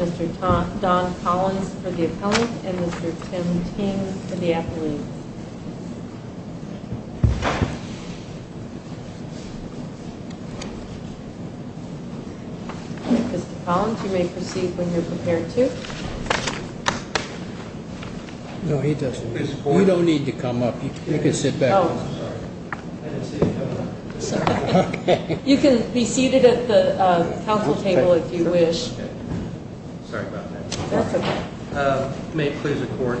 Mr. Don Collins for the appellant and Mr. Tim Ting for the athlete. Mr. Collins, you may proceed when you're prepared to. We don't need to come up. You can sit back. You can be seated at the council table if you wish. May it please the court.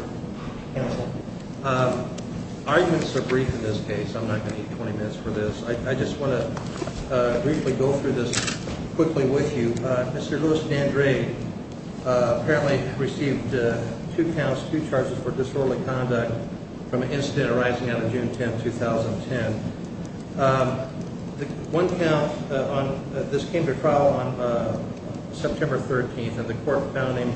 Arguments are brief in this case. I'm not going to need 20 minutes for this. I just want to briefly go through this quickly with you. Mr. Louis Dandrade apparently received two counts, two charges for disorderly conduct from an incident arising out of June 10, 2010. One count, this came to trial on September 13, and the court found him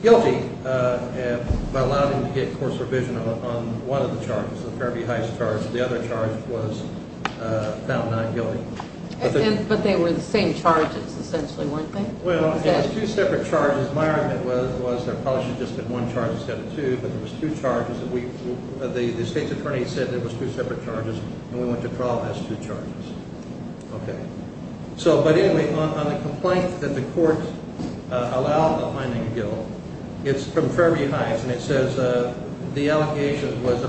guilty by allowing him to get course revision on one of the charges, the Fairview Heights charge. The other charge was found not guilty. But they were the same charges, essentially, weren't they? Well, it was two separate charges. My argument was there probably should have just been one charge instead of two, but there was two charges. The state's attorney said there was two separate charges, and we went to trial on those two charges. But anyway, on the complaint that the court allowed the finding of guilt, it's from Fairview Heights. And it says the allegation was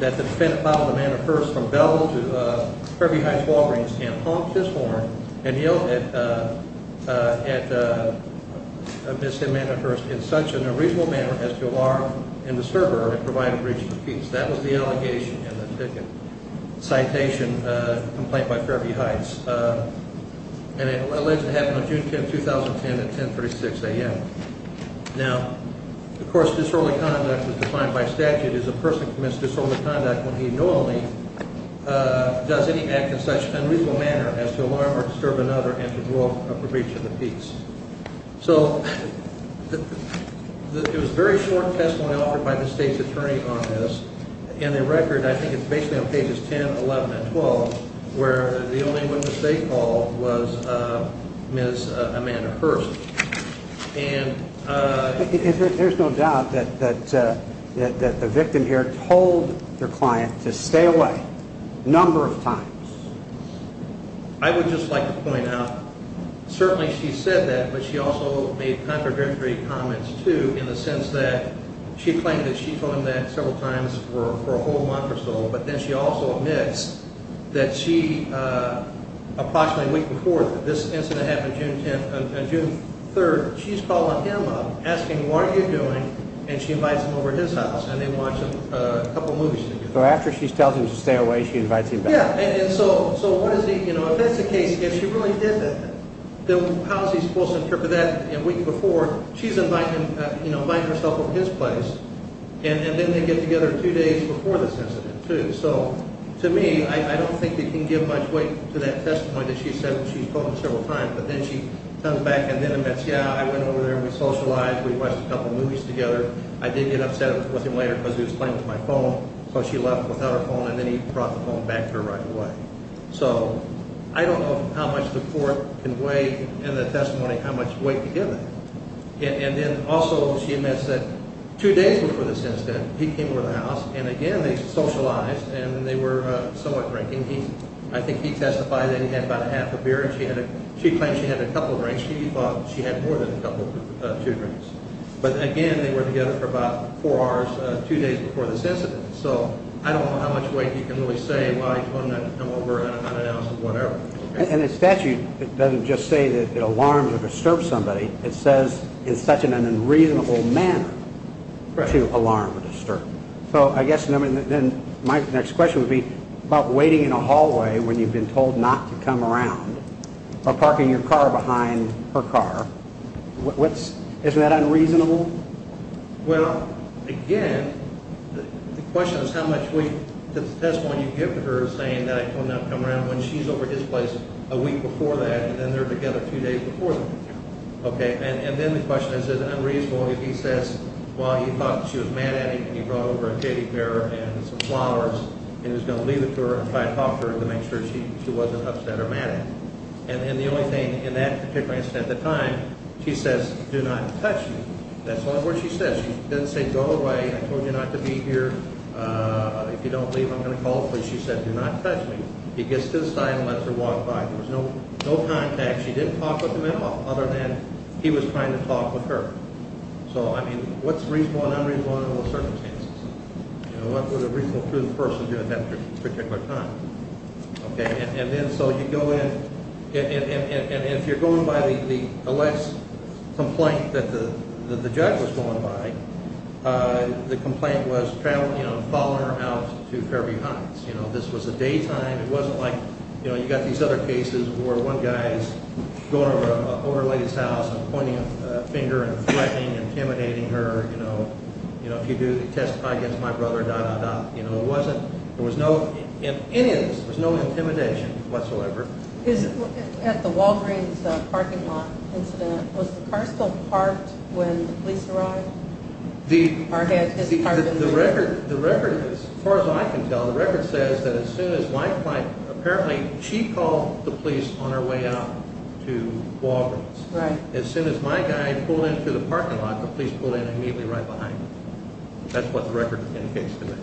that the defendant followed Amanda Hearst from Belleville to Fairview Heights Walgreens and honked his horn and yelled at Ms. Amanda Hearst in such an unreasonable manner as to alarm and disturb her. That was the allegation in the citation complaint by Fairview Heights. And it allegedly happened on June 10, 2010 at 10.36 a.m. Now, of course, disorderly conduct was defined by statute as a person commits disorderly conduct when he knowingly does any act in such an unreasonable manner as to alarm or disturb another and to draw a breach of the peace. So it was very short testimony offered by the state's attorney on this. In the record, I think it's basically on pages 10, 11, and 12, where the only witness they called was Ms. Amanda Hearst. And there's no doubt that the victim here told her client to stay away a number of times. I would just like to point out, certainly she said that, but she also made contradictory comments, too, in the sense that she claimed that she told him that several times for a whole month or so. But then she also admits that she approximately a week before this incident happened on June 3rd, she's calling him up asking, what are you doing? And she invites him over to his house, and they watch a couple movies together. So after she tells him to stay away, she invites him back. So if that's the case, if she really did that, then how is he supposed to interpret that? A week before, she's inviting himself over to his place, and then they get together two days before this incident, too. So to me, I don't think they can give much weight to that testimony that she said she told him several times. But then she comes back and then admits, yeah, I went over there and we socialized, we watched a couple movies together. I did get upset with him later because he was playing with my phone. So she left without her phone, and then he brought the phone back to her right away. So I don't know how much the court can weigh in the testimony how much weight to give them. And then also she admits that two days before this incident, he came over to the house, and again they socialized, and they were somewhat drinking. I think he testified that he had about a half a beer, and she claimed she had a couple drinks. She thought she had more than a couple, two drinks. But again, they were together for about four hours two days before this incident. So I don't know how much weight you can really say why he told him not to come over and not announce it, whatever. And the statute doesn't just say that it alarms or disturbs somebody. It says in such an unreasonable manner to alarm or disturb. So I guess my next question would be about waiting in a hallway when you've been told not to come around or parking your car behind her car. Isn't that unreasonable? Well, again, the question is how much weight to the testimony you give to her saying that I told him not to come around when she's over at his place a week before that, and then they're together two days before that. And then the question is unreasonable if he says, well, he thought she was mad at him, and he brought over a teddy bear and some flowers, and he was going to leave it to her and try to talk to her to make sure she wasn't upset or mad at him. And then the only thing, in that particular incident at the time, she says, do not touch me. That's all the words she says. She doesn't say go away. I told you not to be here. If you don't leave, I'm going to call police. She said, do not touch me. He gets to the side and lets her walk by. There was no contact. She didn't talk with him at all other than he was trying to talk with her. So, I mean, what's reasonable and unreasonable under those circumstances? You know, what would a reasonable person do at that particular time? Okay, and then so you go in, and if you're going by the alleged complaint that the judge was going by, the complaint was following her out to Fairview Heights. You know, this was the daytime. It wasn't like, you know, you've got these other cases where one guy is going over to an older lady's house and pointing a finger and threatening, intimidating her. You know, if you do, testify against my brother, dah, dah, dah. You know, it wasn't, there was no, in any of this, there was no intimidation whatsoever. At the Walgreens parking lot incident, was the car still parked when the police arrived? The record, as far as I can tell, the record says that as soon as my client, apparently she called the police on her way out to Walgreens. Right. As soon as my guy pulled into the parking lot, the police pulled in immediately right behind him. That's what the record indicates to me.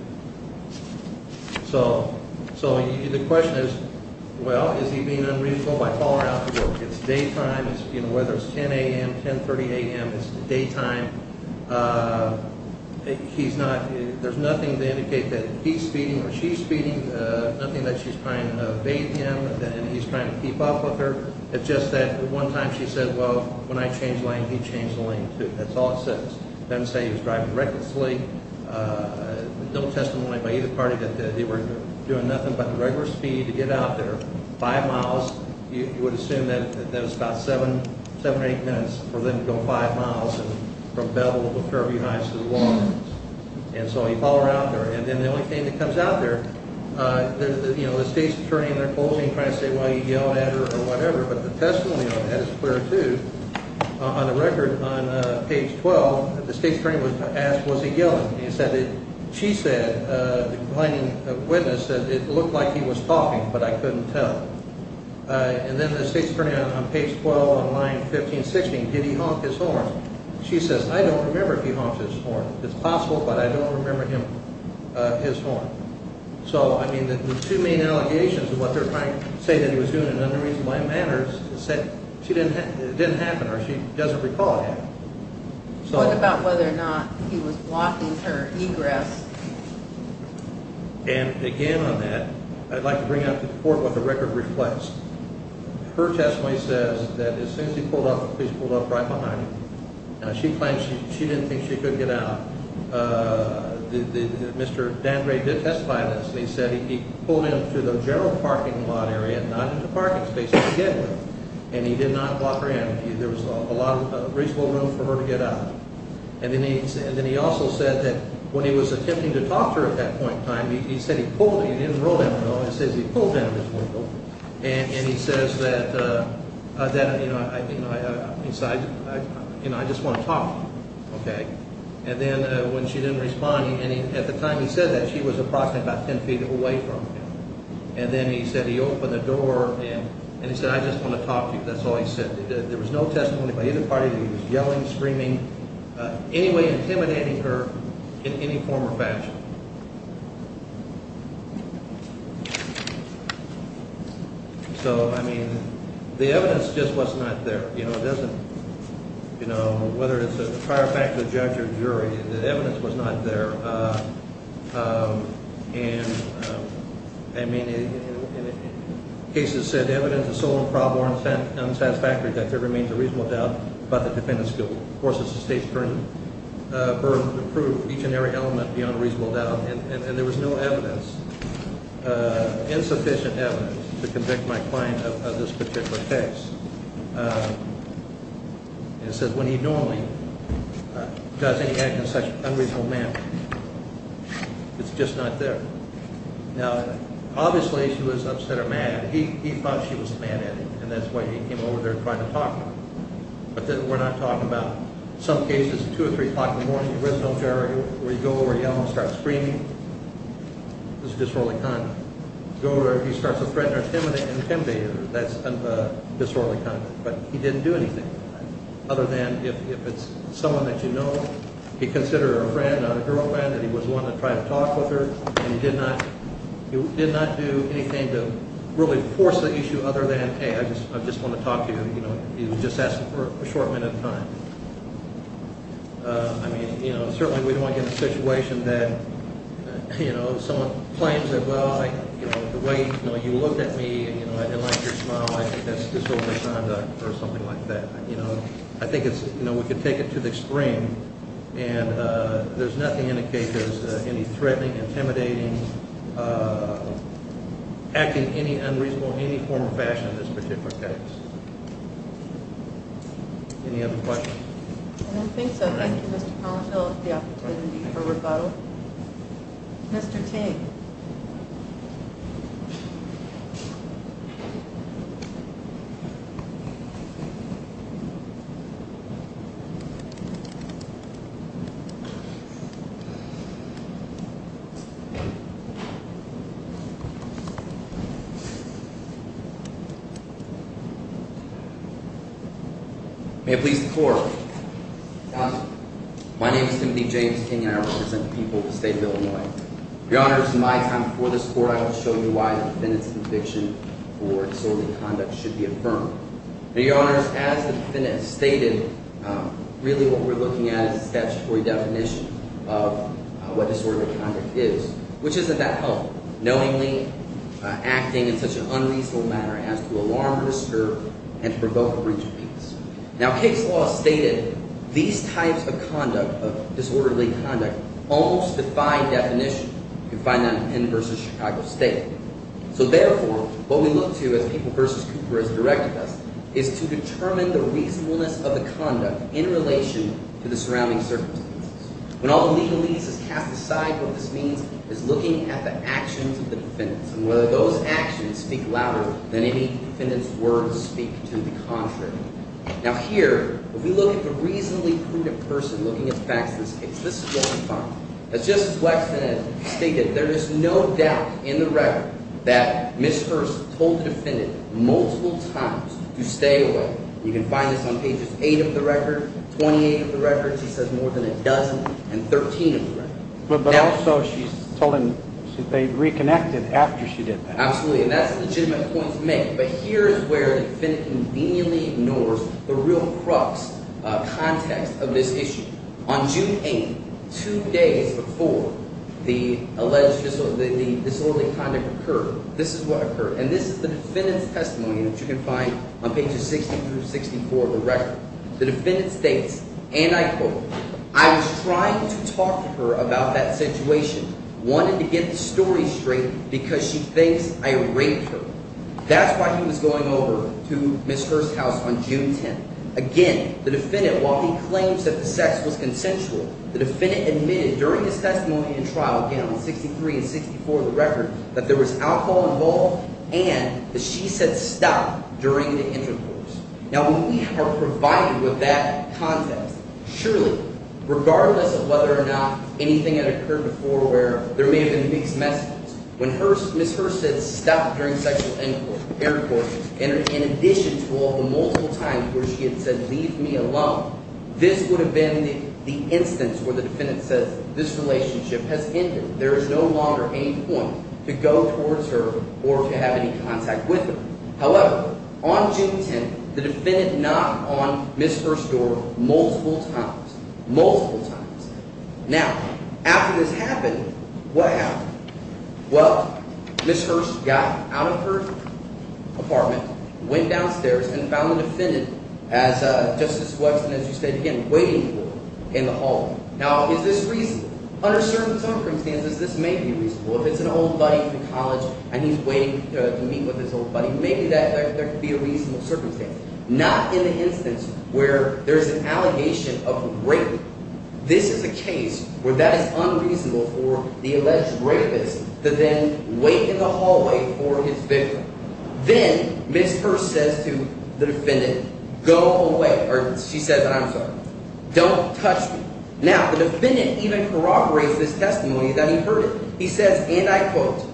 So, so the question is, well, is he being unreasonable by following her out to work? It's daytime. You know, whether it's 10 a.m., 10.30 a.m., it's daytime. He's not, there's nothing to indicate that he's speeding or she's speeding, nothing that she's trying to evade him and he's trying to keep up with her. It's just that one time she said, well, when I changed lanes, he changed the lane too. That's all it says. It doesn't say he was driving recklessly. No testimony by either party that they were doing nothing but the regular speed to get out there, five miles. You would assume that that was about seven, seven or eight minutes for them to go five miles from Belleville to Fairview Heights to the Walgreens. And so he followed her out there. And then the only thing that comes out there, you know, the state's attorney in their closing trying to say, well, he yelled at her or whatever. But the testimony on that is clear, too. On the record on page 12, the state's attorney was asked, was he yelling? And he said, she said, the blinding witness said, it looked like he was talking, but I couldn't tell. And then the state's attorney on page 12 on line 1560, did he honk his horn? She says, I don't remember if he honks his horn. It's possible, but I don't remember him, his horn. So, I mean, the two main allegations of what they're trying to say that he was doing another reason why manners said she didn't, it didn't happen or she doesn't recall him. So what about whether or not he was walking her egress? And again, on that, I'd like to bring up the report with the record reflects. Her testimony says that as soon as he pulled up, he's pulled up right behind him. She claims she didn't think she could get out. Mr. Dan Gray did testify on this. And he said he pulled into the general parking lot area, not into parking spaces to get with her. And he did not block her in. There was a lot of reasonable room for her to get out. And then he also said that when he was attempting to talk to her at that point in time, he said he pulled, he didn't roll down the window, he says he pulled down the window. And he says that, you know, I just want to talk. Okay. And then when she didn't respond at the time, he said that she was approximately 10 feet away from him. And then he said he opened the door and he said, I just want to talk to you. That's all he said. There was no testimony by either party. He was yelling, screaming anyway, intimidating her in any form or fashion. So, I mean, the evidence just was not there. You know, it doesn't, you know, whether it's a prior fact of the judge or jury, the evidence was not there. And, I mean, cases said evidence is so improper and unsatisfactory that there remains a reasonable doubt about the defendant's guilt. Of course, it's the state's burden to prove each and every element beyond a reasonable doubt. And there was no evidence, insufficient evidence to convict my client of this particular case. And it says when he normally does any act in such unreasonable manner, it's just not there. Now, obviously, she was upset or mad. He thought she was mad at him, and that's why he came over there trying to talk to her. But we're not talking about some cases, 2 or 3 o'clock in the morning, you go over and yell and start screaming. This is disorderly conduct. Go over there, he starts to threaten her, intimidate her. That's disorderly conduct. But he didn't do anything other than if it's someone that you know, he considered her a friend, a girlfriend, that he was willing to try to talk with her. And he did not do anything to really force the issue other than, hey, I just want to talk to you. You know, he would just ask for a short minute of time. I mean, you know, certainly we don't want to get in a situation that, you know, someone claims that, well, you know, the way, you know, you looked at me, and, you know, I didn't like your smile, I think that's disorderly conduct or something like that. You know, I think it's, you know, we could take it to the extreme. And there's nothing in the case that's any threatening, intimidating, acting any unreasonable in any form or fashion in this particular case. Any other questions? I don't think so. Thank you, Mr. Pollenhill, for the opportunity for rebuttal. Mr. Ting. May it please the Court. My name is Timothy James Ting, and I represent the people of the state of Illinois. Your Honors, in my time before this Court, I will show you why the defendant's conviction for disorderly conduct should be affirmed. Your Honors, as the defendant stated, really what we're looking at is a statutory definition of what disorderly conduct is, which isn't that helpful? Knowingly acting in such an unreasonable manner as to alarm, disturb, and provoke a breach of peace. Now, case law stated these types of conduct, of disorderly conduct, almost defy definition. You can find that in the verse of Chicago State. So therefore, what we look to, as People v. Cooper has directed us, is to determine the reasonableness of the conduct in relation to the surrounding circumstances. When all the legalese is cast aside, what this means is looking at the actions of the defendant. And whether those actions speak louder than any defendant's words speak to the contrary. Now here, if we look at the reasonably prudent person looking at the facts of this case, this is what we find. As Justice Blackson has stated, there is no doubt in the record that Ms. Hearst told the defendant multiple times to stay away. You can find this on pages 8 of the record, 28 of the record. She says more than a dozen and 13 of the record. But also she's told him they reconnected after she did that. Absolutely, and that's a legitimate point to make. But here is where the defendant conveniently ignores the real crux context of this issue. On June 8, two days before the alleged disorderly conduct occurred, this is what occurred. And this is the defendant's testimony that you can find on pages 60 through 64 of the record. The defendant states, and I quote, I was trying to talk to her about that situation. Wanted to get the story straight because she thinks I raped her. That's why he was going over to Ms. Hearst's house on June 10. Again, the defendant, while he claims that the sex was consensual, the defendant admitted during his testimony in trial, again on 63 and 64 of the record… …that there was alcohol involved and that she said stop during the intercourse. Now, when we are provided with that context, surely, regardless of whether or not anything had occurred before where there may have been mixed messages… …when Ms. Hearst said stop during sexual intercourse, in addition to all the multiple times where she had said leave me alone… …this would have been the instance where the defendant says this relationship has ended. There is no longer any point to go towards her or to have any contact with her. However, on June 10, the defendant knocked on Ms. Hearst's door multiple times. Multiple times. Now, after this happened, what happened? Well, Ms. Hearst got out of her apartment, went downstairs, and found the defendant, as Justice Wexton, as you stated, again, waiting for her in the hall. Now, is this reasonable? Under certain circumstances, this may be reasonable. If it's an old buddy from college and he's waiting to meet with his old buddy, maybe there could be a reasonable circumstance. Not in the instance where there's an allegation of rape. This is a case where that is unreasonable for the alleged rapist to then wait in the hallway for his victim. Then Ms. Hearst says to the defendant, go away – or she says, I'm sorry, don't touch me. Now, the defendant even corroborates this testimony that he heard. He says, and I quote,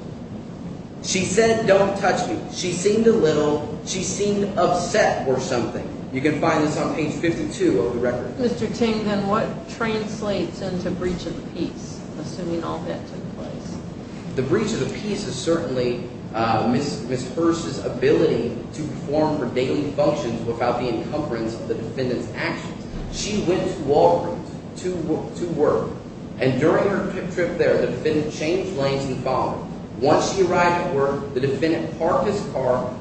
she said don't touch me. She seemed a little – she seemed upset or something. You can find this on page 52 of the record. Mr. Ting, then what translates into breach of the peace, assuming all that took place? The breach of the peace is certainly Ms. Hearst's ability to perform her daily functions without the encumbrance of the defendant's actions. She went to Walgreens to work. And during her trip there, the defendant changed lanes and followed her. Once she arrived at work, the defendant parked his car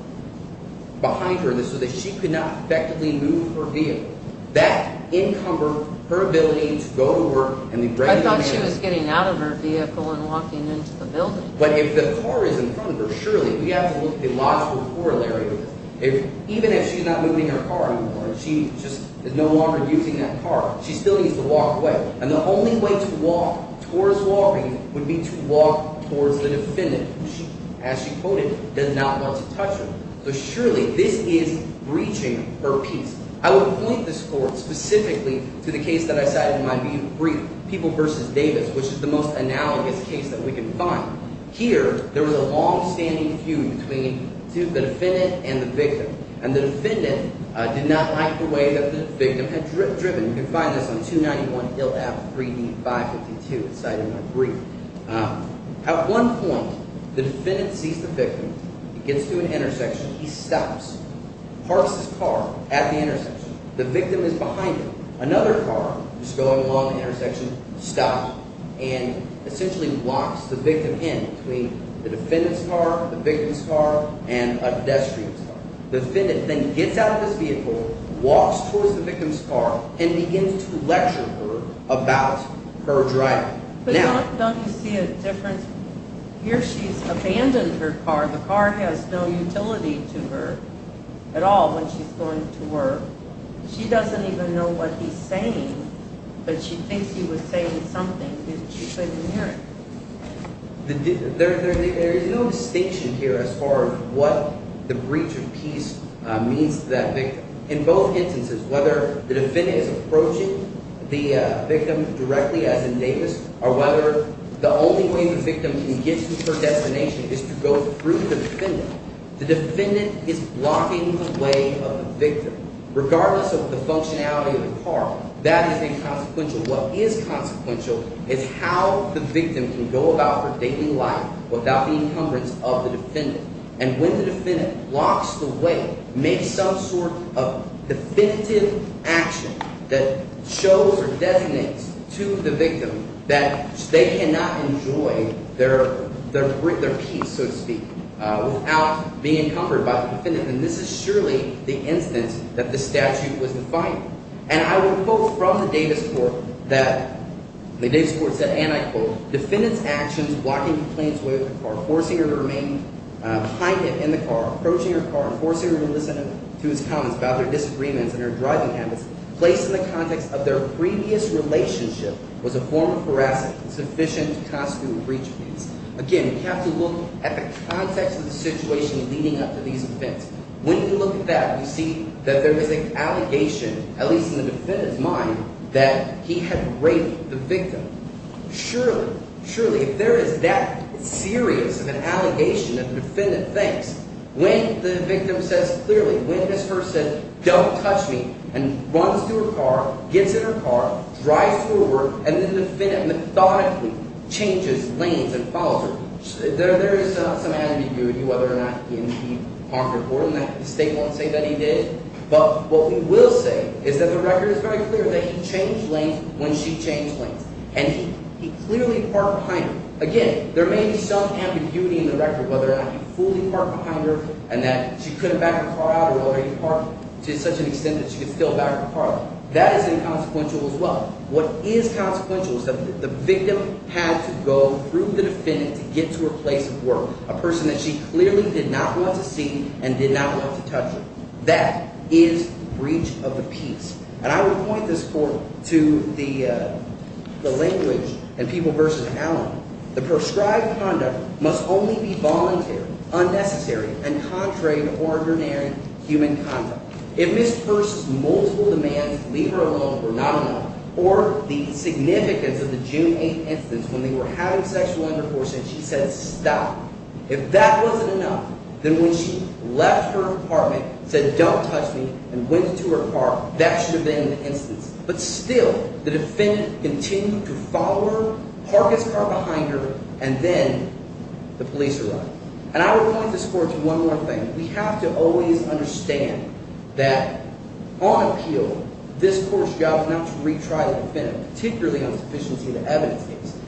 behind her so that she could not effectively move her vehicle. That encumbered her ability to go to work. I thought she was getting out of her vehicle and walking into the building. But if the car is in front of her, surely we have to look at the logical corollary of this. Even if she's not moving her car anymore and she just is no longer using that car, she still needs to walk away. And the only way to walk towards Walgreens would be to walk towards the defendant, who she – as she quoted, does not want to touch her. So surely this is breaching her peace. I would point this forward specifically to the case that I cited in my brief, People v. Davis, which is the most analogous case that we can find. Here, there was a longstanding feud between the defendant and the victim. And the defendant did not like the way that the victim had driven. You can find this on 291 Hill Ave. 3D 552 cited in my brief. At one point, the defendant sees the victim. He gets to an intersection. He stops, parks his car at the intersection. The victim is behind him. Another car is going along the intersection, stopping, and essentially locks the victim in between the defendant's car, the victim's car, and a pedestrian's car. The defendant then gets out of his vehicle, walks towards the victim's car, and begins to lecture her about her driving. But don't you see a difference? Here she's abandoned her car. The car has no utility to her at all when she's going to work. She doesn't even know what he's saying, but she thinks he was saying something. She couldn't hear it. There is no distinction here as far as what the breach of peace means to that victim. In both instances, whether the defendant is approaching the victim directly, as in Davis, or whether the only way the victim can get to her destination is to go through the defendant, the defendant is blocking the way of the victim. Regardless of the functionality of the car, that is a consequential. What is consequential is how the victim can go about her daily life without the encumbrance of the defendant. And when the defendant blocks the way, makes some sort of definitive action that shows or designates to the victim that they cannot enjoy their peace, so to speak, without being encumbered by the defendant. And this is surely the instance that the statute was defined. And I would quote from the Davis court that – the Davis court said, and I quote, Defendant's actions, blocking the plaintiff's way of the car, forcing her to remain behind him in the car, approaching her car, and forcing her to listen to his comments about their disagreements and their driving habits, placed in the context of their previous relationship, was a form of harassment sufficient to constitute a breach of peace. Again, you have to look at the context of the situation leading up to these events. When you look at that, you see that there is an allegation, at least in the defendant's mind, that he had raped the victim. Surely, surely, if there is that serious of an allegation that the defendant thinks, when the victim says clearly, when his first said, don't touch me, and runs to her car, gets in her car, drives forward, and the defendant methodically changes lanes and follows her. There is some ambiguity whether or not he harmed her or not. The state won't say that he did. But what we will say is that the record is very clear that he changed lanes when she changed lanes. And he clearly parked behind her. Again, there may be some ambiguity in the record whether or not he fully parked behind her and that she couldn't back her car out or whether he parked to such an extent that she could still back her car out. That is inconsequential as well. What is consequential is that the victim had to go through the defendant to get to her place of work, a person that she clearly did not want to see and did not want to touch her. That is breach of the peace. And I would point this forward to the language in People v. Allen. The prescribed conduct must only be voluntary, unnecessary, and contrary to ordinary human conduct. If Ms. Peirce's multiple demands to leave her alone were not enough or the significance of the June 8th instance when they were having sexual intercourse and she said stop, if that wasn't enough, then when she left her apartment and said don't touch me and went into her car, that should have been an instance. But still, the defendant continued to follow her, park his car behind her, and then the police arrived. And I would point this forward to one more thing. We have to always understand that on appeal, this court's job is not to retry the defendant, particularly on sufficiency of the evidence case.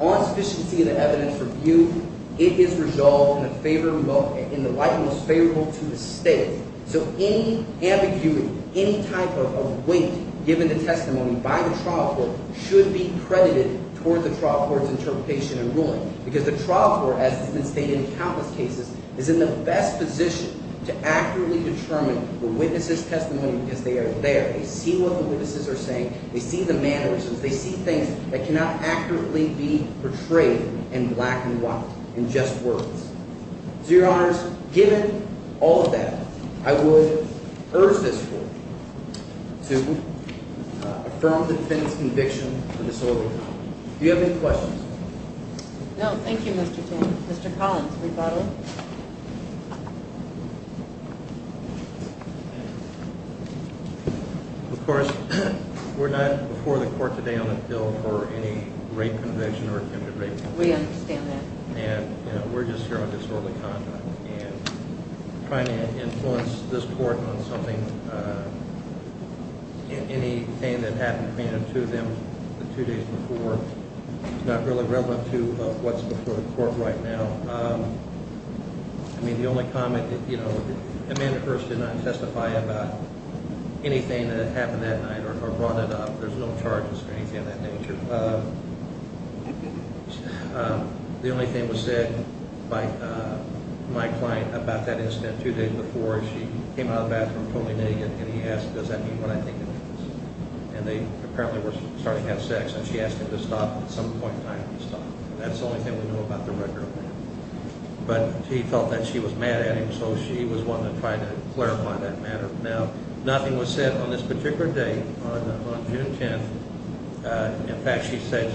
On sufficiency of the evidence review, it is resolved in the light most favorable to the state. So any ambiguity, any type of weight given to testimony by the trial court should be credited toward the trial court's interpretation and ruling. Because the trial court, as has been stated in countless cases, is in the best position to accurately determine the witness's testimony because they are there. They see what the witnesses are saying. They see the mannerisms. They see things that cannot accurately be portrayed in black and white, in just words. To your honors, given all of that, I would urge this court to affirm the defendant's conviction for disorderly conduct. Do you have any questions? No, thank you, Mr. King. Mr. Collins, rebuttal. Of course, we're not before the court today on a bill for any rape conviction or attempted rape conviction. We understand that. And, you know, we're just here on disorderly conduct and trying to influence this court on something. Anything that happened to them the two days before is not really relevant to what's before the court right now. I mean, the only comment that, you know, Amanda Hearst did not testify about anything that happened that night or brought it up. There's no charges or anything of that nature. The only thing that was said by my client about that incident two days before is she came out of the bathroom totally naked and he asked, does that mean what I think it means? And they apparently were starting to have sex and she asked him to stop and at some point in time he stopped. That's the only thing we know about the record of that. But he felt that she was mad at him, so she was one to try to clarify that matter. Now, nothing was said on this particular day on June 10th. In fact, she said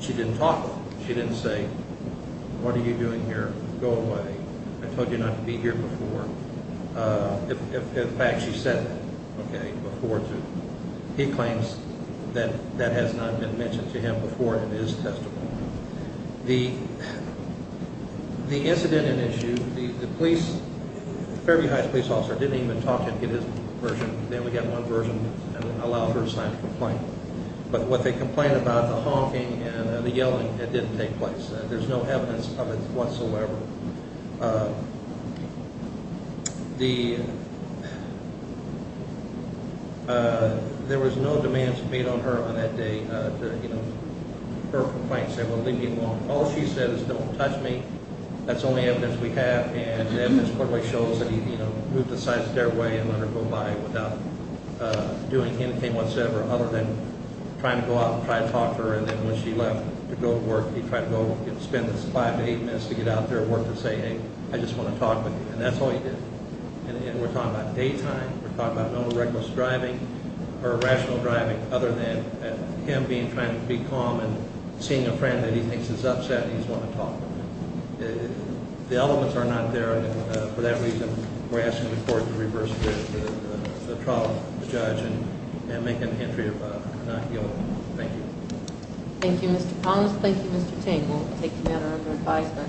she didn't talk. She didn't say, what are you doing here? Go away. I told you not to be here before. In fact, she said that, okay, before too. He claims that that has not been mentioned to him before in his testimony. The incident in issue, the police, Fairview Heights police officer didn't even talk to get his version. They only got one version and allowed her to sign the complaint. But what they complained about, the honking and the yelling, it didn't take place. There's no evidence of it whatsoever. The, there was no demands made on her on that day to, you know, her complaint. Said, well, leave me alone. All she said is, don't touch me. That's the only evidence we have. And the evidence clearly shows that he, you know, moved the side of the stairway and let her go by without doing anything whatsoever other than trying to go out and try to talk to her. And then when she left to go to work, he tried to go spend five to eight minutes to get out there and work to say, hey, I just want to talk with you. And that's all he did. And we're talking about daytime. We're talking about no reckless driving or rational driving other than him being trying to be calm and seeing a friend that he thinks is upset. He's going to talk. The elements are not there. For that reason, we're asking the court to reverse the trial of the judge and make an entry of not guilty. Thank you. Thank you, Mr. Collins. Thank you, Mr. Ting. We'll take the matter under advisement.